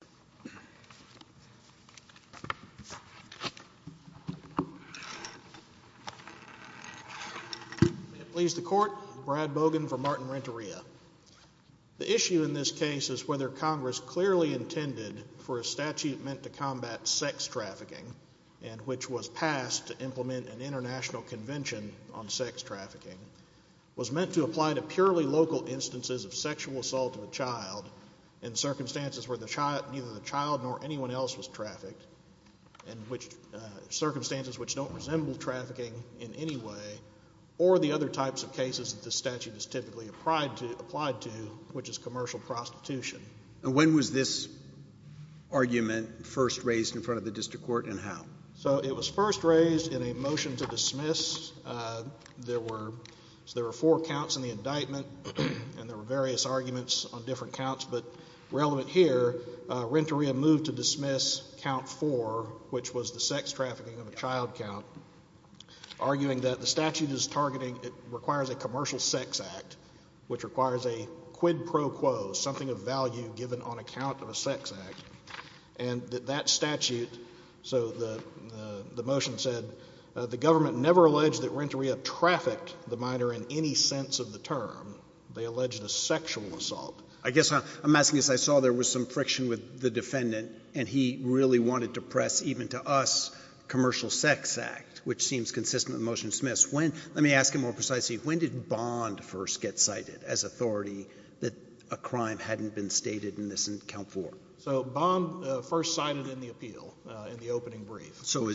May it please the Court, Brad Bogan for Martin Renteria. The issue in this case is whether Congress clearly intended for a statute meant to combat sex trafficking, and which was passed to implement an international convention on sex trafficking, was meant to apply to purely local instances of sexual assault of a child in circumstances where neither the child nor anyone else was trafficked, and which circumstances which don't resemble trafficking in any way, or the other types of cases that this statute is typically applied to, which is commercial prostitution. And when was this argument first raised in front of the district court and how? So it was first raised in a motion to dismiss. There were four counts in the indictment, and there were various arguments on different counts, but relevant here, Renteria moved to dismiss count four, which was the sex trafficking of a child count, arguing that the statute is targeting, it requires a commercial sex act, which requires a quid pro quo, something of value given on account of a sex act, and that that statute, so the motion said, the government never alleged that Renteria trafficked the minor in any sense of the term. They alleged a sexual assault. I guess I'm asking, as I saw, there was some friction with the defendant, and he really wanted to press, even to us, commercial sex act, which seems consistent with the motion to dismiss. When, let me ask him more precisely, when did Bond first get cited as authority that a crime hadn't been stated in this count four? So Bond first cited in the appeal, in the opening brief. So are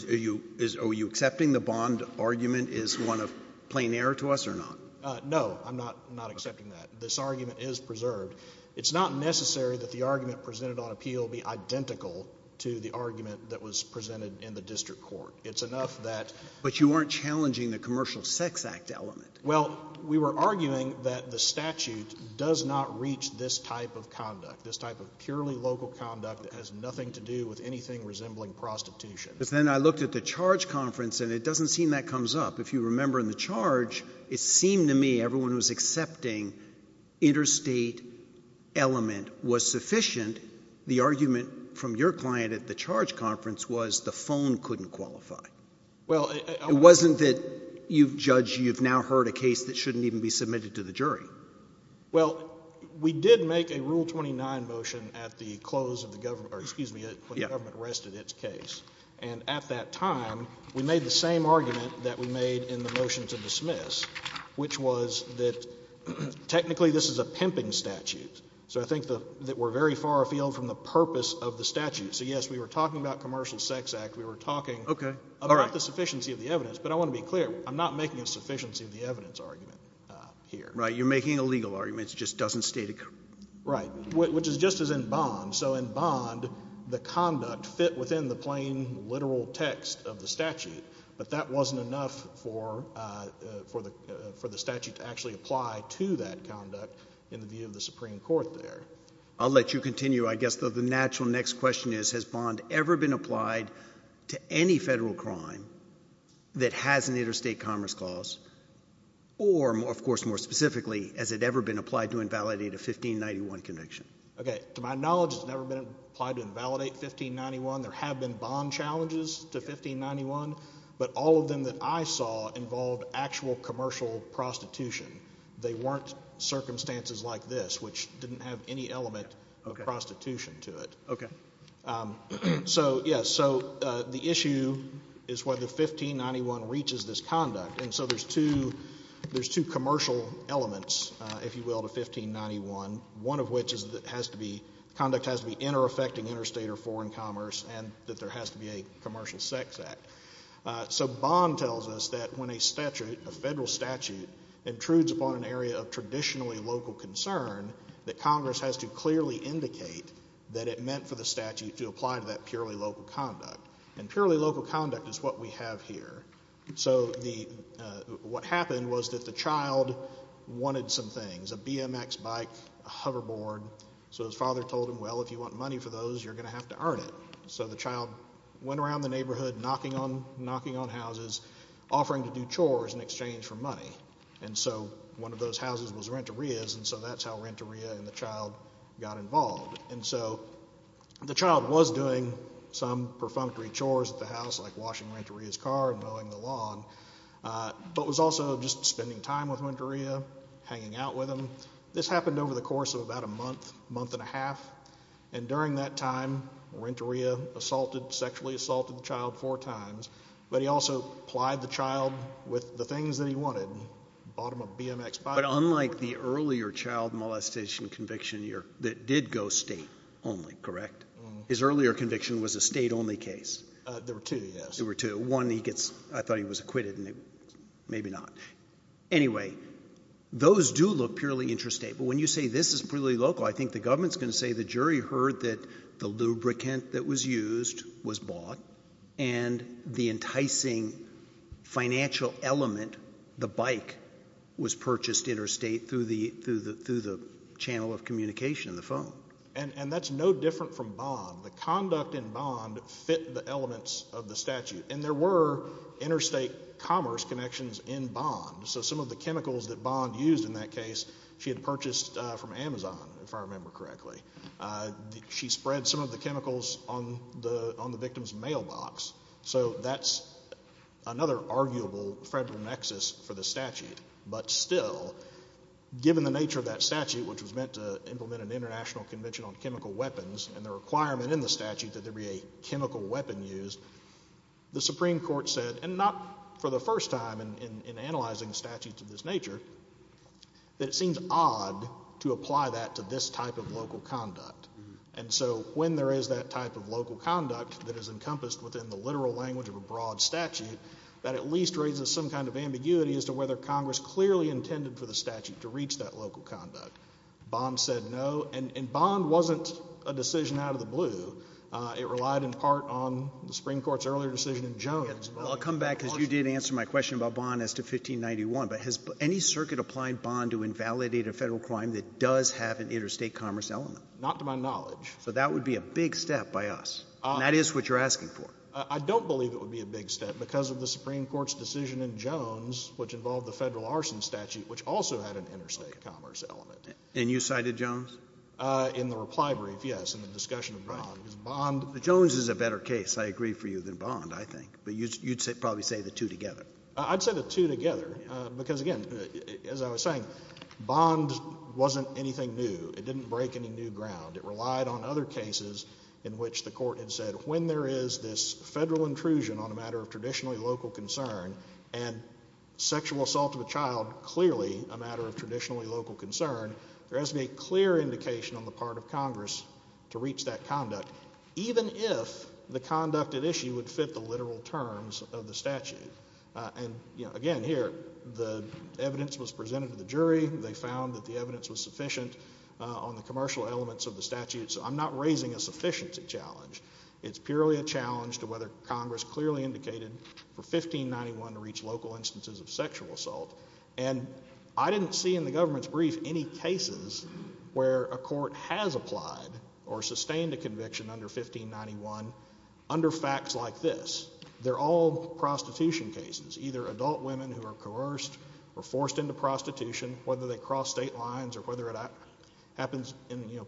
you accepting the Bond argument is one of plain error to us or not? No, I'm not accepting that. This argument is preserved. It's not necessary that the argument presented on appeal be identical to the argument that was presented in the district court. It's enough that — But you weren't challenging the commercial sex act element. Well, we were arguing that the statute does not reach this type of conduct, this type of purely local conduct that has nothing to do with anything resembling prostitution. But then I looked at the charge conference, and it doesn't seem that comes up. If you remember in the charge, it seemed to me everyone who was accepting interstate element was sufficient. The argument from your client at the charge conference was the phone couldn't qualify. Well, I — It wasn't that you've judged — you've now heard a case that shouldn't even be submitted to the jury. Well, we did make a Rule 29 motion at the close of the — or excuse me, when the government arrested its case. And at that time, we made the same argument that we made in the motion to dismiss, which was that technically this is a pimping statute. So I think that we're very far afield from the purpose of the statute. So, yes, we were talking about commercial sex act. We were talking about the sufficiency of the evidence. But I want to be clear. I'm not making a sufficiency of the evidence argument here. Right. You're making a legal argument. It just doesn't state a — Right. Which is just as in Bond. So in Bond, the conduct fit within the plain, literal text of the statute. But that wasn't enough for the statute to actually apply to that conduct in the view of the Supreme Court there. I'll let you continue. I guess the natural next question is, has Bond ever been applied to any federal crime that has an interstate commerce clause? Or, of course, more specifically, has it ever been applied to invalidate a 1591 conviction? OK. To my knowledge, it's never been applied to invalidate 1591. There have been Bond challenges to 1591. But all of them that I saw involved actual commercial prostitution. They weren't circumstances like this, which didn't have any element of prostitution to it. OK. So, yes. So the issue is whether 1591 reaches this conduct. And so there's two commercial elements, if you will, to 1591, one of which is that it has to be — conduct has to be inter-affecting interstate or foreign commerce and that there has to be a commercial sex act. So Bond tells us that when a statute, a federal statute, intrudes upon an area of traditionally local concern, that Congress has to clearly indicate that it meant for the statute to apply to that purely local conduct. And purely local conduct is what we have here. So the — what happened was that the child wanted some things, a BMX bike, a hoverboard. So his father told him, well, if you want money for those, you're going to have to earn it. So the child went around the neighborhood knocking on — knocking on houses, offering to do chores in exchange for money. And so one of those houses was rent-a-ria's, and so that's how rent-a-ria and the child got involved. And so the child was doing some perfunctory chores at the house, like washing rent-a-ria's car and mowing the lawn, but was also just spending time with rent-a-ria, hanging out with him. This happened over the course of about a month, month and a half. And during that time, rent-a-ria assaulted — sexually assaulted the child four times. But he also plied the child with the things that he wanted, bought him a BMX bike — But unlike the earlier child molestation conviction that did go state-only, correct? His earlier conviction was a state-only case. There were two, yes. There were two. One, he gets — I thought he was acquitted, and maybe not. Anyway, those do look purely interstate. But when you say this is purely local, I think the government's going to say the jury heard that the lubricant that was used was bought, and the enticing financial element, the bike, was purchased interstate through the channel of communication, the phone. And that's no different from Bond. The conduct in Bond fit the elements of the statute. And there were interstate commerce connections in Bond. So some of the chemicals that Bond used in that case, she had purchased from Amazon, if I remember correctly. She spread some of the chemicals on the victim's mailbox. So that's another arguable federal nexus for the statute. But still, given the nature of that statute, which was meant to implement an international convention on chemical weapons, and the requirement in the statute that there be a chemical weapon used, the Supreme Court said — and not for the first time in analyzing statutes of this when there is that type of local conduct that is encompassed within the literal language of a broad statute, that at least raises some kind of ambiguity as to whether Congress clearly intended for the statute to reach that local conduct. Bond said no. And Bond wasn't a decision out of the blue. It relied in part on the Supreme Court's earlier decision in Jones. Well, I'll come back, because you did answer my question about Bond as to 1591. But has any circuit applied Bond to invalidate a federal crime that does have an interstate commerce element? Not to my knowledge. So that would be a big step by us. And that is what you're asking for. I don't believe it would be a big step because of the Supreme Court's decision in Jones, which involved the federal arson statute, which also had an interstate commerce element. And you cited Jones? In the reply brief, yes, in the discussion of Bond. Right. But Jones is a better case, I agree, for you than Bond, I think. But you'd probably say the two together. I'd say the two together, because again, as I was saying, Bond wasn't anything new. It didn't break any new ground. It relied on other cases in which the court had said, when there is this federal intrusion on a matter of traditionally local concern, and sexual assault of a child clearly a matter of traditionally local concern, there has to be a clear indication on the part of Congress to reach that conduct, even if the conduct at issue would fit the literal terms of the statute. And again, here, the evidence was presented to the jury. They found that the evidence was sufficient on the commercial elements of the statute. So I'm not raising a sufficiency challenge. It's purely a challenge to whether Congress clearly indicated for 1591 to reach local instances of sexual assault. And I didn't see in the government's brief any cases where a court has applied or sustained a conviction under 1591 under facts like this. They're all prostitution cases, either adult women who are coerced or forced into prostitution, whether they cross state lines or whether it happens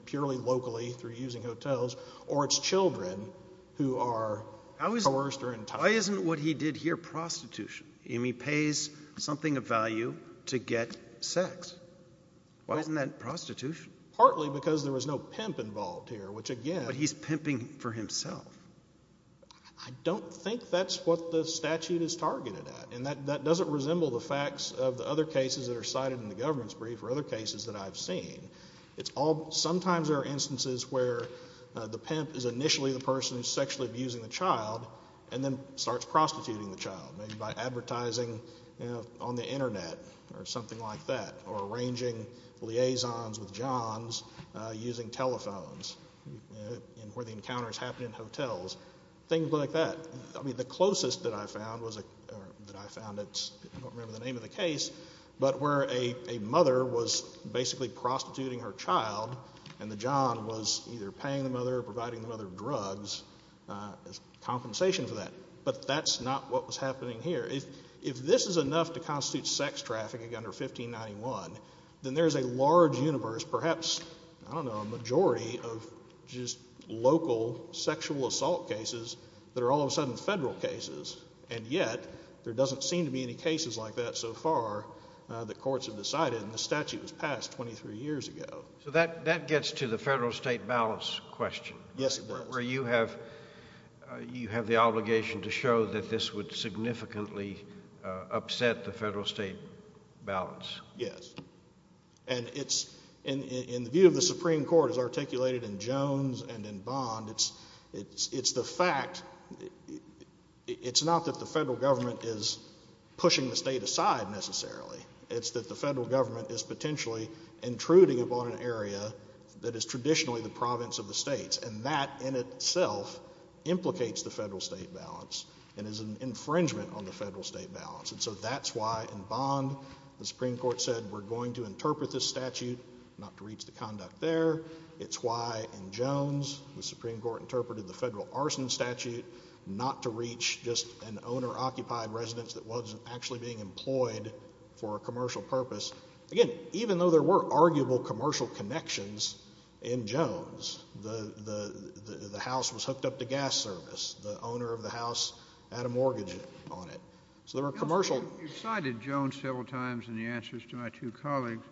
purely locally through using hotels, or it's children who are coerced or enticed. Why isn't what he did here prostitution? I mean, he pays something of value to get sex. Why isn't that prostitution? Partly because there was no pimp involved here, which, again— But he's pimping for himself. I don't think that's what the statute is targeted at. And that doesn't resemble the facts of the other cases that are cited in the government's brief or other cases that I've seen. Sometimes there are instances where the pimp is initially the person who's sexually abusing the child and then starts prostituting the child, maybe by advertising on the Internet or something like that, or arranging liaisons with Johns using telephones, and where the encounters happen in hotels, things like that. The closest that I found was—I don't remember the name of the case, but where a mother was basically prostituting her child and the John was either paying the mother or providing the mother drugs as compensation for that. But that's not what was happening here. If this is enough to constitute sex trafficking under 1591, then there's a large universe, perhaps, I don't know, a majority of just local sexual assault cases that are all of the federal cases. And yet, there doesn't seem to be any cases like that so far that courts have decided, and the statute was passed 23 years ago. So that gets to the federal-state balance question. Yes, it does. Where you have the obligation to show that this would significantly upset the federal-state balance. Yes. And in the view of the Supreme Court, as articulated in Jones and in Bond, it's the fact—it's not that the federal government is pushing the state aside, necessarily. It's that the federal government is potentially intruding upon an area that is traditionally the province of the states, and that in itself implicates the federal-state balance and is an infringement on the federal-state balance. And so that's why, in Bond, the Supreme Court said, we're going to interpret this statute not to reach the conduct there. It's why, in Jones, the Supreme Court interpreted the federal arson statute not to reach just an owner-occupied residence that wasn't actually being employed for a commercial purpose. Again, even though there were arguable commercial connections in Jones, the house was hooked up to gas service. The owner of the house had a mortgage on it. So there were commercial— You cited Jones several times in the answers to my two colleagues.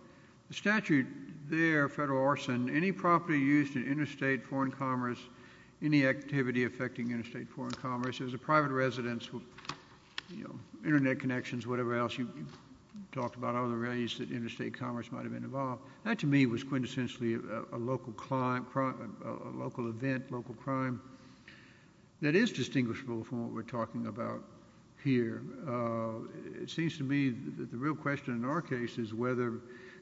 The statute there, federal property, any property used in interstate foreign commerce, any activity affecting interstate foreign commerce, it was a private residence with, you know, internet connections, whatever else you talked about, other ways that interstate commerce might have been involved. That to me was quintessentially a local crime—a local event, local crime that is distinguishable from what we're talking about here. It seems to me that the real question in our case is whether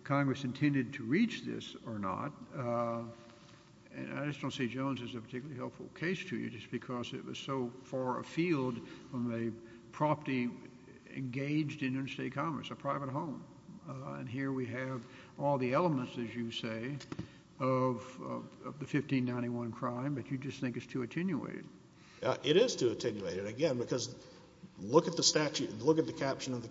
Congress intended to reach this or not. And I just don't see Jones as a particularly helpful case to you, just because it was so far afield from a property engaged in interstate commerce, a private home. And here we have all the elements, as you say, of the 1591 crime that you just think is too attenuated. It is too attenuated, again, because look at the statute, look at the caption of the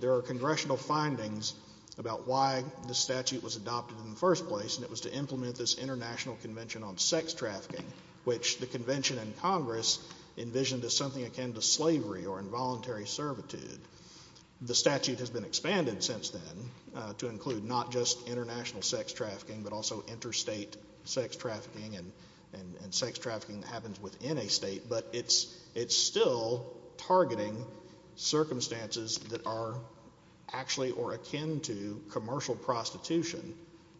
There are congressional findings about why the statute was adopted in the first place, and it was to implement this international convention on sex trafficking, which the convention and Congress envisioned as something akin to slavery or involuntary servitude. The statute has been expanded since then to include not just international sex trafficking, but also interstate sex trafficking, and sex trafficking that happens within a state. But it's still targeting circumstances that are actually or akin to commercial prostitution.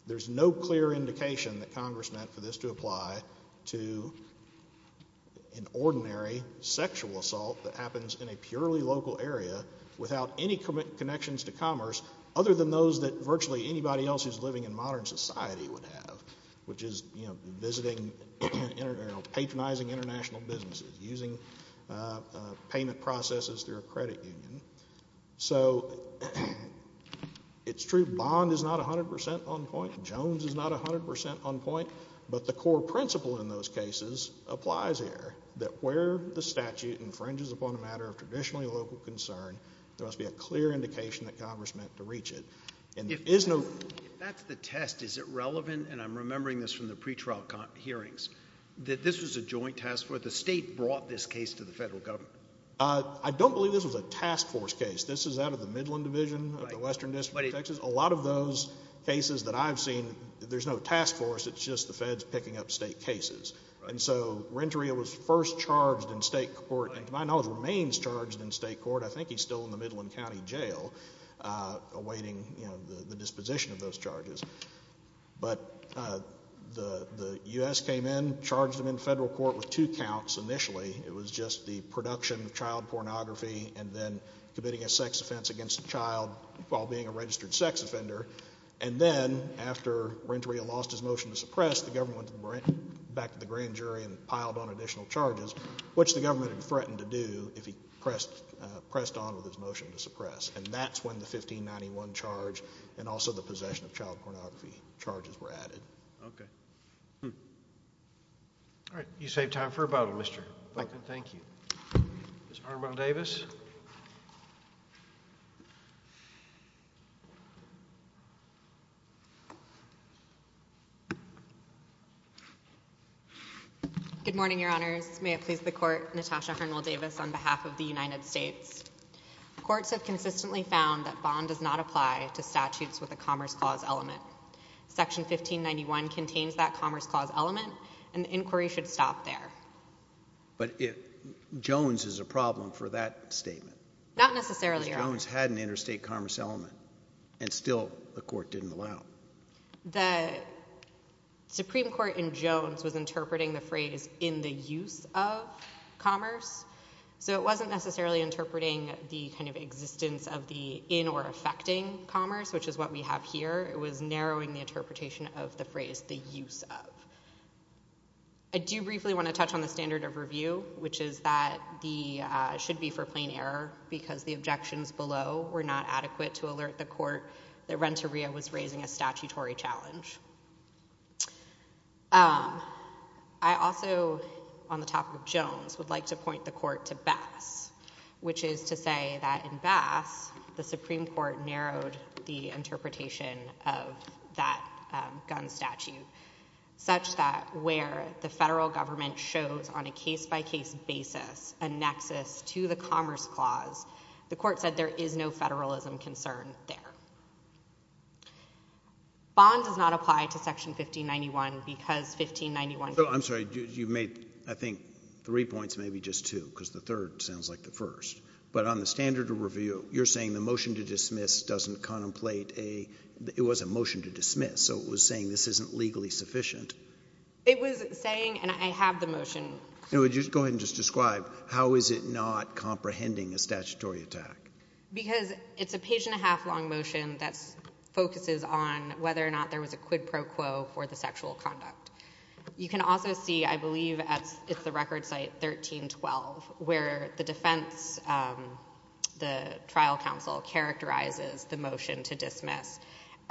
There's no clear indication that Congress meant for this to apply to an ordinary sexual assault that happens in a purely local area without any connections to commerce other than those that virtually anybody else who's living in modern society would have, which is using payment processes through a credit union. So it's true bond is not 100% on point, Jones is not 100% on point, but the core principle in those cases applies there, that where the statute infringes upon a matter of traditionally local concern, there must be a clear indication that Congress meant to reach it. If that's the test, is it relevant, and I'm remembering this from the pretrial hearings, that this was a joint task force, the state brought this case to the federal government? I don't believe this was a task force case. This is out of the Midland Division of the Western District of Texas. A lot of those cases that I've seen, there's no task force, it's just the feds picking up state cases. And so Renteria was first charged in state court, and to my knowledge remains charged in state court, I think he's still in the Midland County Jail awaiting the disposition of those charges. But the U.S. came in, charged him in federal court with two counts initially, it was just the production of child pornography and then committing a sex offense against a child while being a registered sex offender, and then after Renteria lost his motion to suppress, the government went back to the grand jury and piled on additional charges, which the government had threatened to do if he pressed on with his motion to suppress, and that's when the 1591 charge and also the possession of child pornography charges were added. Okay. All right. You saved time for a bottle, Mr. Duncan. Thank you. Ms. Harnwell-Davis? Good morning, Your Honors. May it please the Court, Natasha Harnwell-Davis on behalf of the United States. Courts have consistently found that bond does not apply to statutes with a commerce clause element. Section 1591 contains that commerce clause element, and the inquiry should stop there. But it, Jones is a problem for that statement. Not necessarily, Your Honors. Because Jones had an interstate commerce element, and still the court didn't allow it. The Supreme Court in Jones was interpreting the phrase in the use of commerce, so it wasn't necessarily interpreting the kind of existence of the in or affecting commerce, which is what we have here. It was narrowing the interpretation of the phrase the use of. I do briefly want to touch on the standard of review, which is that the, should be for plain error, because the objections below were not adequate to alert the court that Renteria was raising a statutory challenge. I also, on the topic of Jones, would like to point the court to Bass, which is to say that in Bass, the Supreme Court narrowed the interpretation of that gun statute such that where the federal government shows on a case-by-case basis a nexus to the commerce clause, the court said there is no federalism concern there. Bond does not apply to Section 1591 because 1591... I'm sorry. You made, I think, three points, maybe just two, because the third sounds like the first. But on the standard of review, you're saying the motion to dismiss doesn't contemplate a, it was a motion to dismiss, so it was saying this isn't legally sufficient. It was saying, and I have the motion... Go ahead and just describe. How is it not comprehending a statutory attack? Because it's a page-and-a-half long motion that focuses on whether or not there was a quid pro quo for the sexual conduct. You can also see, I believe, it's the record site 1312, where the defense, the trial counsel characterizes the motion to dismiss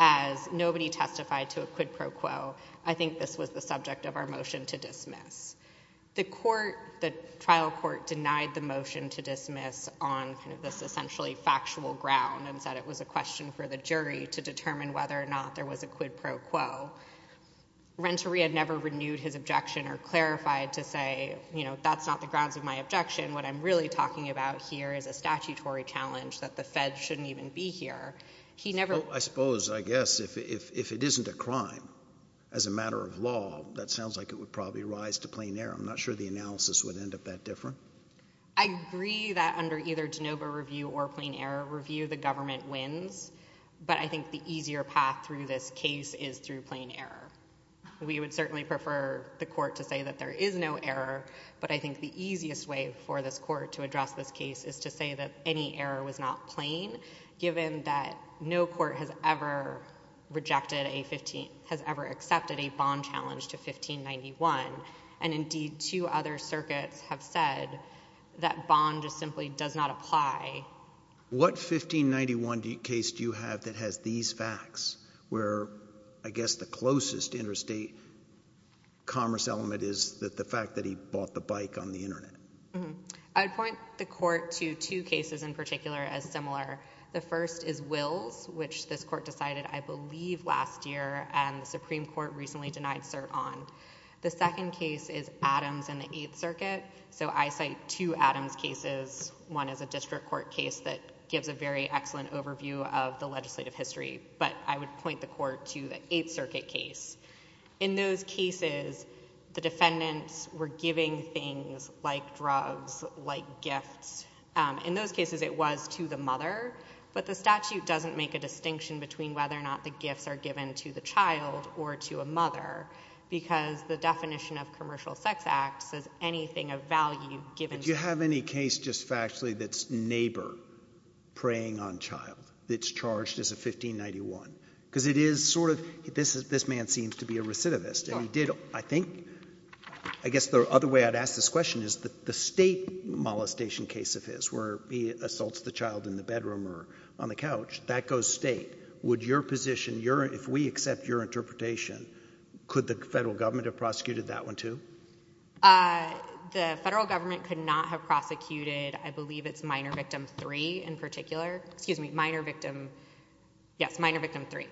as nobody testified to a quid pro quo. I think this was the subject of our motion to dismiss. The court, the trial court denied the motion to dismiss on kind of this essentially factual ground and said it was a question for the jury to determine whether or not there was a quid pro quo. Renteria never renewed his objection or clarified to say, you know, that's not the grounds of my objection. What I'm really talking about here is a statutory challenge that the Fed shouldn't even be here. He never... I suppose, I guess, if it isn't a crime, as a matter of law, that sounds like it would probably rise to plain error. I'm not sure the analysis would end up that different. I agree that under either de novo review or plain error review, the government wins, but I think the easier path through this case is through plain error. We would certainly prefer the court to say that there is no error, but I think the easiest way for this court to address this case is to say that any error was not plain, given that no court has ever rejected a... has ever accepted a bond challenge to 1591, and indeed two other circuits have said that bond just simply does not apply. What 1591 case do you have that has these facts where, I guess, the closest interstate commerce element is the fact that he bought the bike on the Internet? I would point the court to two cases in particular as similar. The first is Wills, which this court decided, I believe, last year, and the Supreme Court recently denied cert on. The second case is Adams and the Eighth Circuit, so I cite two Adams cases. One is a district court case that gives a very excellent overview of the legislative history, but I would point the court to the Eighth Circuit case. In those cases, the defendants were giving things like drugs, like gifts. In those cases, it was to the mother, but the statute doesn't make a distinction between whether or not the gifts are given to the child or to a mother, because the definition of commercial sex acts says anything of value given... Do you have any case just factually that's neighbor preying on child that's charged as a 1591? Because it is sort of... this man seems to be a recidivist, and he did, I think... I don't know if it's a recidivist where he assaults the child in the bedroom or on the couch. That goes state. Would your position, if we accept your interpretation, could the federal government have prosecuted that one too? The federal government could not have prosecuted, I believe, it's minor victim three in particular. Excuse me, minor victim... yes, minor victim three,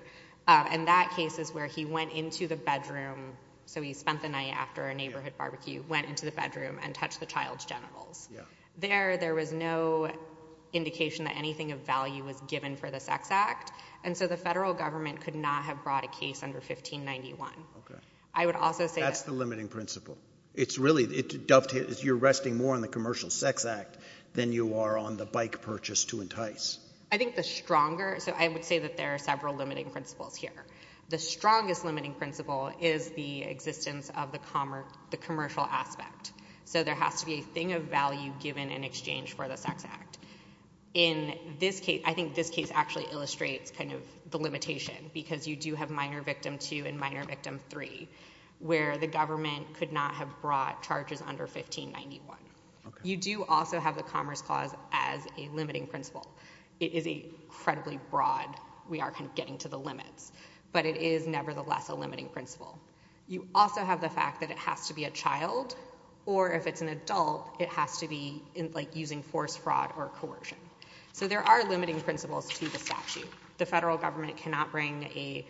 and that case is where he went into the bedroom, so he spent the night after a neighborhood barbecue, went into the bedroom and touched the child's genitals. There, there was no indication that anything of value was given for the sex act, and so the federal government could not have brought a case under 1591. I would also say... That's the limiting principle. It's really... you're resting more on the commercial sex act than you are on the bike purchase to entice. I think the stronger... so I would say that there are several limiting principles here. The strongest limiting principle is the existence of the commercial aspect. So there has to be a thing of value given in exchange for the sex act. In this case, I think this case actually illustrates kind of the limitation, because you do have minor victim two and minor victim three, where the government could not have brought charges under 1591. Okay. You do also have the commerce clause as a limiting principle. It is incredibly broad. We are kind of getting to the limits, but it is nevertheless a limiting principle. You also have the fact that it has to be a child, or if it's an adult, it has to be using force, fraud, or coercion. So there are limiting principles to the statute. The federal government cannot bring a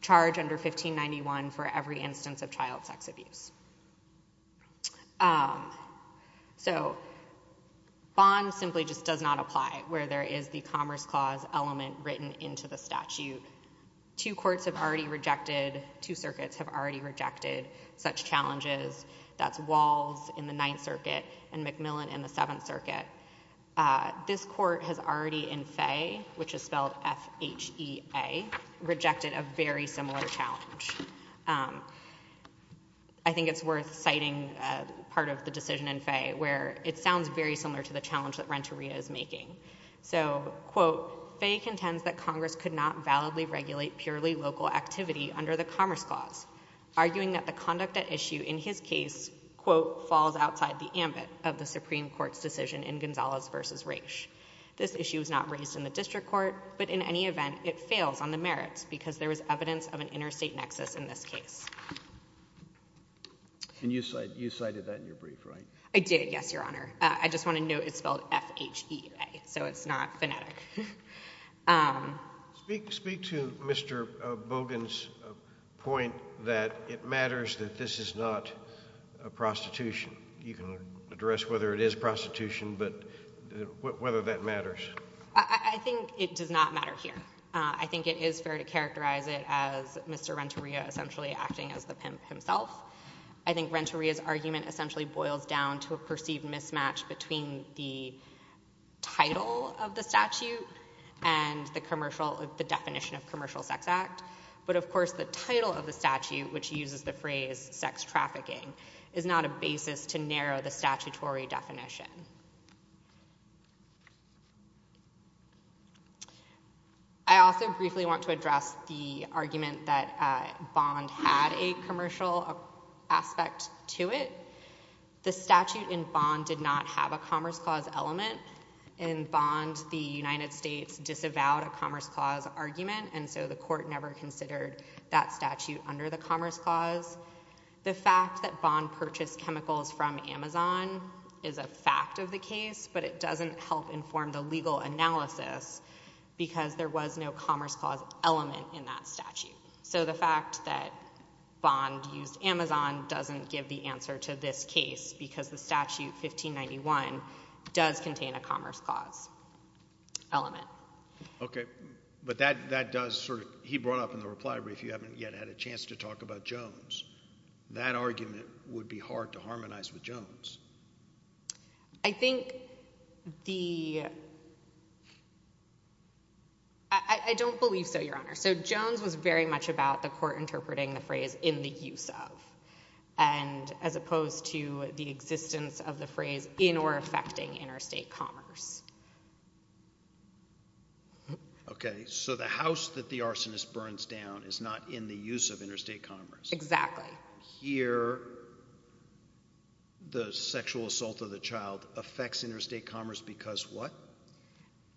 charge under 1591 for every instance of child sex abuse. So bond simply just does not apply, where there is the commerce clause element written into the statute. Two courts have already rejected, two circuits have already rejected such challenges. That's Walls in the Ninth Circuit and McMillan in the Seventh Circuit. This court has already in Fay, which is spelled F-H-E-A, rejected a very similar challenge. I think it's worth citing part of the decision in Fay, where it sounds very similar to the challenge that Renteria is making. So, quote, Fay contends that Congress could not validly regulate purely local activity under the commerce clause, arguing that the conduct at issue in his case, quote, falls outside the ambit of the Supreme Court's decision in Gonzalez v. Raich. This issue is not raised in the district court, but in any event, it fails on the merits, because there is evidence of an interstate nexus in this case. And you cited that in your brief, right? I did, yes, Your Honor. I just want to note it's spelled F-H-E-A, so it's not phonetic. Speak to Mr. Bogan's point that it matters that this is not a prostitution. You can address whether it is prostitution, but whether that matters. I think it does not matter here. I think it is fair to characterize it as Mr. Renteria essentially acting as the pimp himself. I think Renteria's argument essentially boils down to a perceived mismatch between the title of the statute and the commercial, the definition of commercial sex act. But of course, the title of the statute, which uses the phrase sex trafficking, is not a basis to narrow the statutory definition. I also briefly want to address the argument that Bond had a commercial aspect to it. The statute in Bond did not have a Commerce Clause element. In Bond, the United States disavowed a Commerce Clause argument, and so the court never considered that statute under the Commerce Clause. The fact that Bond purchased chemicals from Amazon is a fact of the case, but it doesn't help inform the legal analysis because there was no Commerce Clause element in that statute. So the fact that Bond used Amazon doesn't give the answer to this case because the statute 1591 does contain a Commerce Clause element. Okay. But that does sort of, he brought up in the reply brief, you haven't yet had a chance to talk about Jones. That argument would be hard to harmonize with Jones. I think the, I don't believe so, Your Honor. So Jones was very much about the court interpreting the phrase, in the use of, and as opposed to the existence of the phrase in or affecting interstate commerce. Okay. So the house that the arsonist burns down is not in the use of interstate commerce. Exactly. Here, the sexual assault of the child affects interstate commerce because what?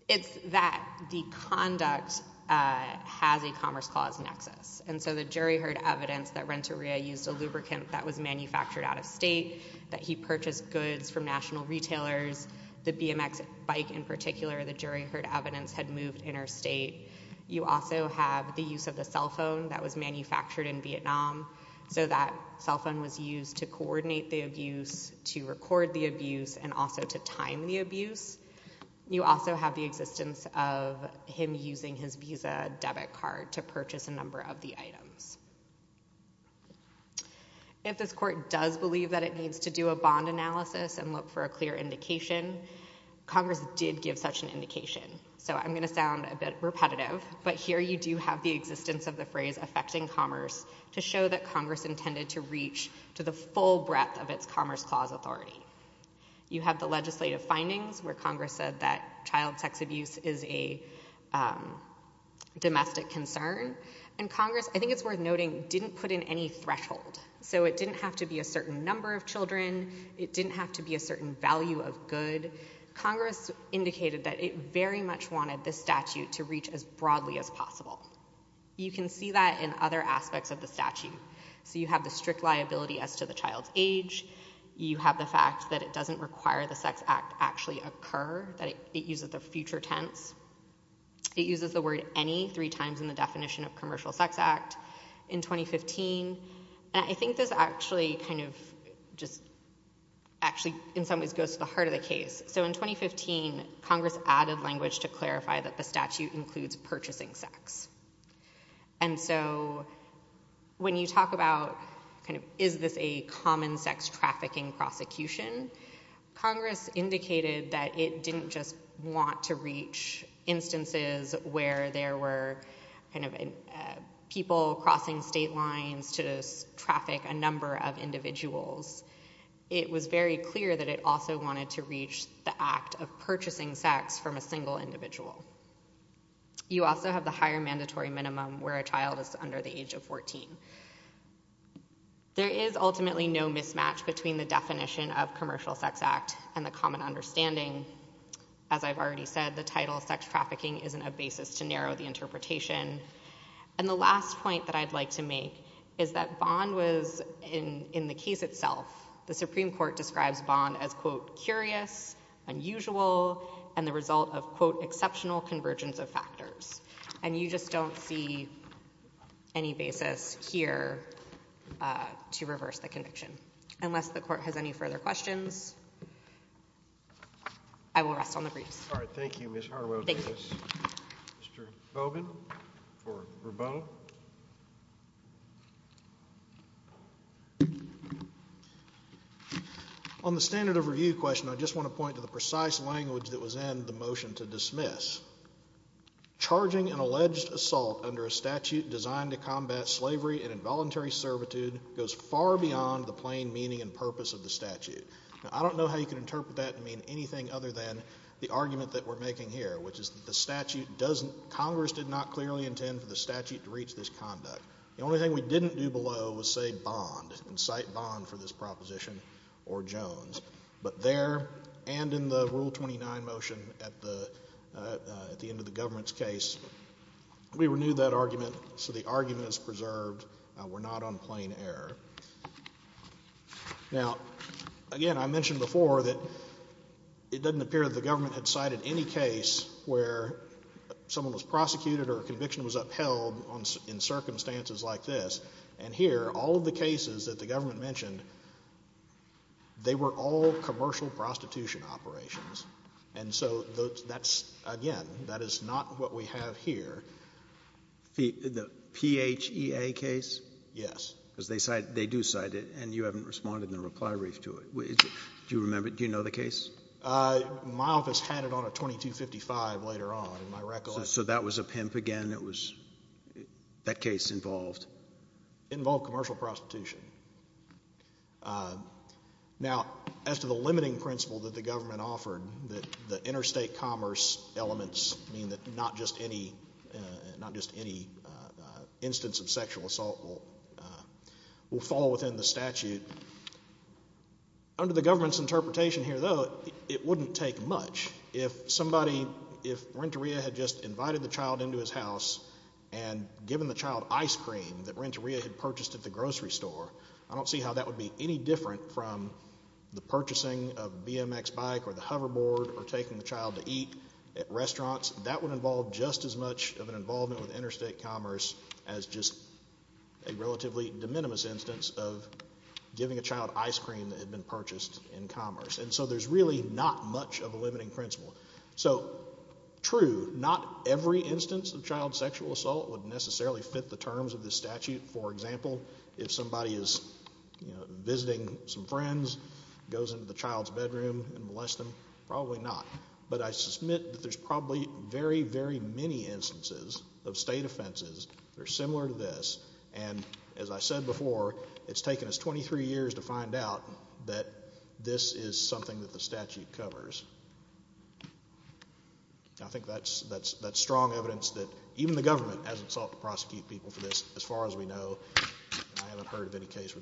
It's that the conduct has a Commerce Clause nexus, and so the jury heard evidence that Renteria used a lubricant that was manufactured out of state, that he purchased goods from You also have the use of the cell phone that was manufactured in Vietnam. So that cell phone was used to coordinate the abuse, to record the abuse, and also to time the abuse. You also have the existence of him using his Visa debit card to purchase a number of the items. If this court does believe that it needs to do a bond analysis and look for a clear indication, Congress did give such an indication. So I'm going to sound a bit repetitive, but here you do have the existence of the phrase affecting commerce to show that Congress intended to reach to the full breadth of its Commerce Clause authority. You have the legislative findings where Congress said that child sex abuse is a domestic concern, and Congress, I think it's worth noting, didn't put in any threshold. So it didn't have to be a certain number of children. It didn't have to be a certain value of good. Congress indicated that it very much wanted this statute to reach as broadly as possible. You can see that in other aspects of the statute. So you have the strict liability as to the child's age. You have the fact that it doesn't require the Sex Act to actually occur, that it uses the future tense. It uses the word any three times in the definition of Commercial Sex Act in 2015, and I think this actually kind of just actually in some ways goes to the heart of the case. So in 2015, Congress added language to clarify that the statute includes purchasing sex. And so when you talk about kind of is this a common sex trafficking prosecution, Congress indicated that it didn't just want to reach instances where there were kind of people crossing state lines to traffic a number of individuals. It was very clear that it also wanted to reach the act of purchasing sex from a single individual. You also have the higher mandatory minimum where a child is under the age of 14. There is ultimately no mismatch between the definition of Commercial Sex Act and the common understanding. As I've already said, the title of sex trafficking isn't a basis to narrow the interpretation. And the last point that I'd like to make is that Bond was, in the case itself, the Supreme Court describes Bond as, quote, curious, unusual, and the result of, quote, exceptional convergence of factors. And you just don't see any basis here to reverse the conviction. Unless the Court has any further questions, I will rest on the briefs. All right. Thank you. Mr. Bogan for rebuttal. On the standard of review question, I just want to point to the precise language that was in the motion to dismiss. Charging an alleged assault under a statute designed to combat slavery and involuntary servitude goes far beyond the plain meaning and purpose of the statute. Now, I don't know how you can interpret that and mean anything other than the argument that we're making here, which is that the statute doesn't, Congress did not clearly intend for the statute to reach this conduct. The only thing we didn't do below was say Bond and cite Bond for this proposition or Jones. But there, and in the Rule 29 motion at the end of the government's case, we renewed that argument so the arguments preserved were not on plain error. Now, again, I mentioned before that it doesn't appear that the government had cited any case where someone was prosecuted or a conviction was upheld in circumstances like this. And here, all of the cases that the government mentioned, they were all commercial prostitution operations. And so that's, again, that is not what we have here. The P-H-E-A case? Yes. Because they cite, they do cite it, and you haven't responded in the reply wreath to it. Do you remember, do you know the case? My office had it on a 2255 later on, in my recollection. So that was a pimp again, it was, that case involved? Involved commercial prostitution. Now, as to the limiting principle that the government offered, that the interstate commerce elements mean that not just any, not just any instance of sexual assault will fall within the statute. Under the government's interpretation here, though, it wouldn't take much if somebody, if Renteria had just invited the child into his house and given the child ice cream that Renteria had purchased at the grocery store, I don't see how that would be any different from the purchasing of a BMX bike or the hoverboard or taking the child to eat at restaurants. That would involve just as much of an involvement with interstate commerce as just a relatively de minimis instance of giving a child ice cream that had been purchased in commerce. And so there's really not much of a limiting principle. So true, not every instance of child sexual assault would necessarily fit the terms of the statute. For example, if somebody is, you know, visiting some friends, goes into the child's bedroom and molests them, probably not. But I submit that there's probably very, very many instances of state offenses that are similar to this, and as I said before, it's taken us 23 years to find out that this is something that the statute covers. I think that's strong evidence that even the government hasn't sought to prosecute people for this, as far as we know, and I haven't heard of any case where they've done so.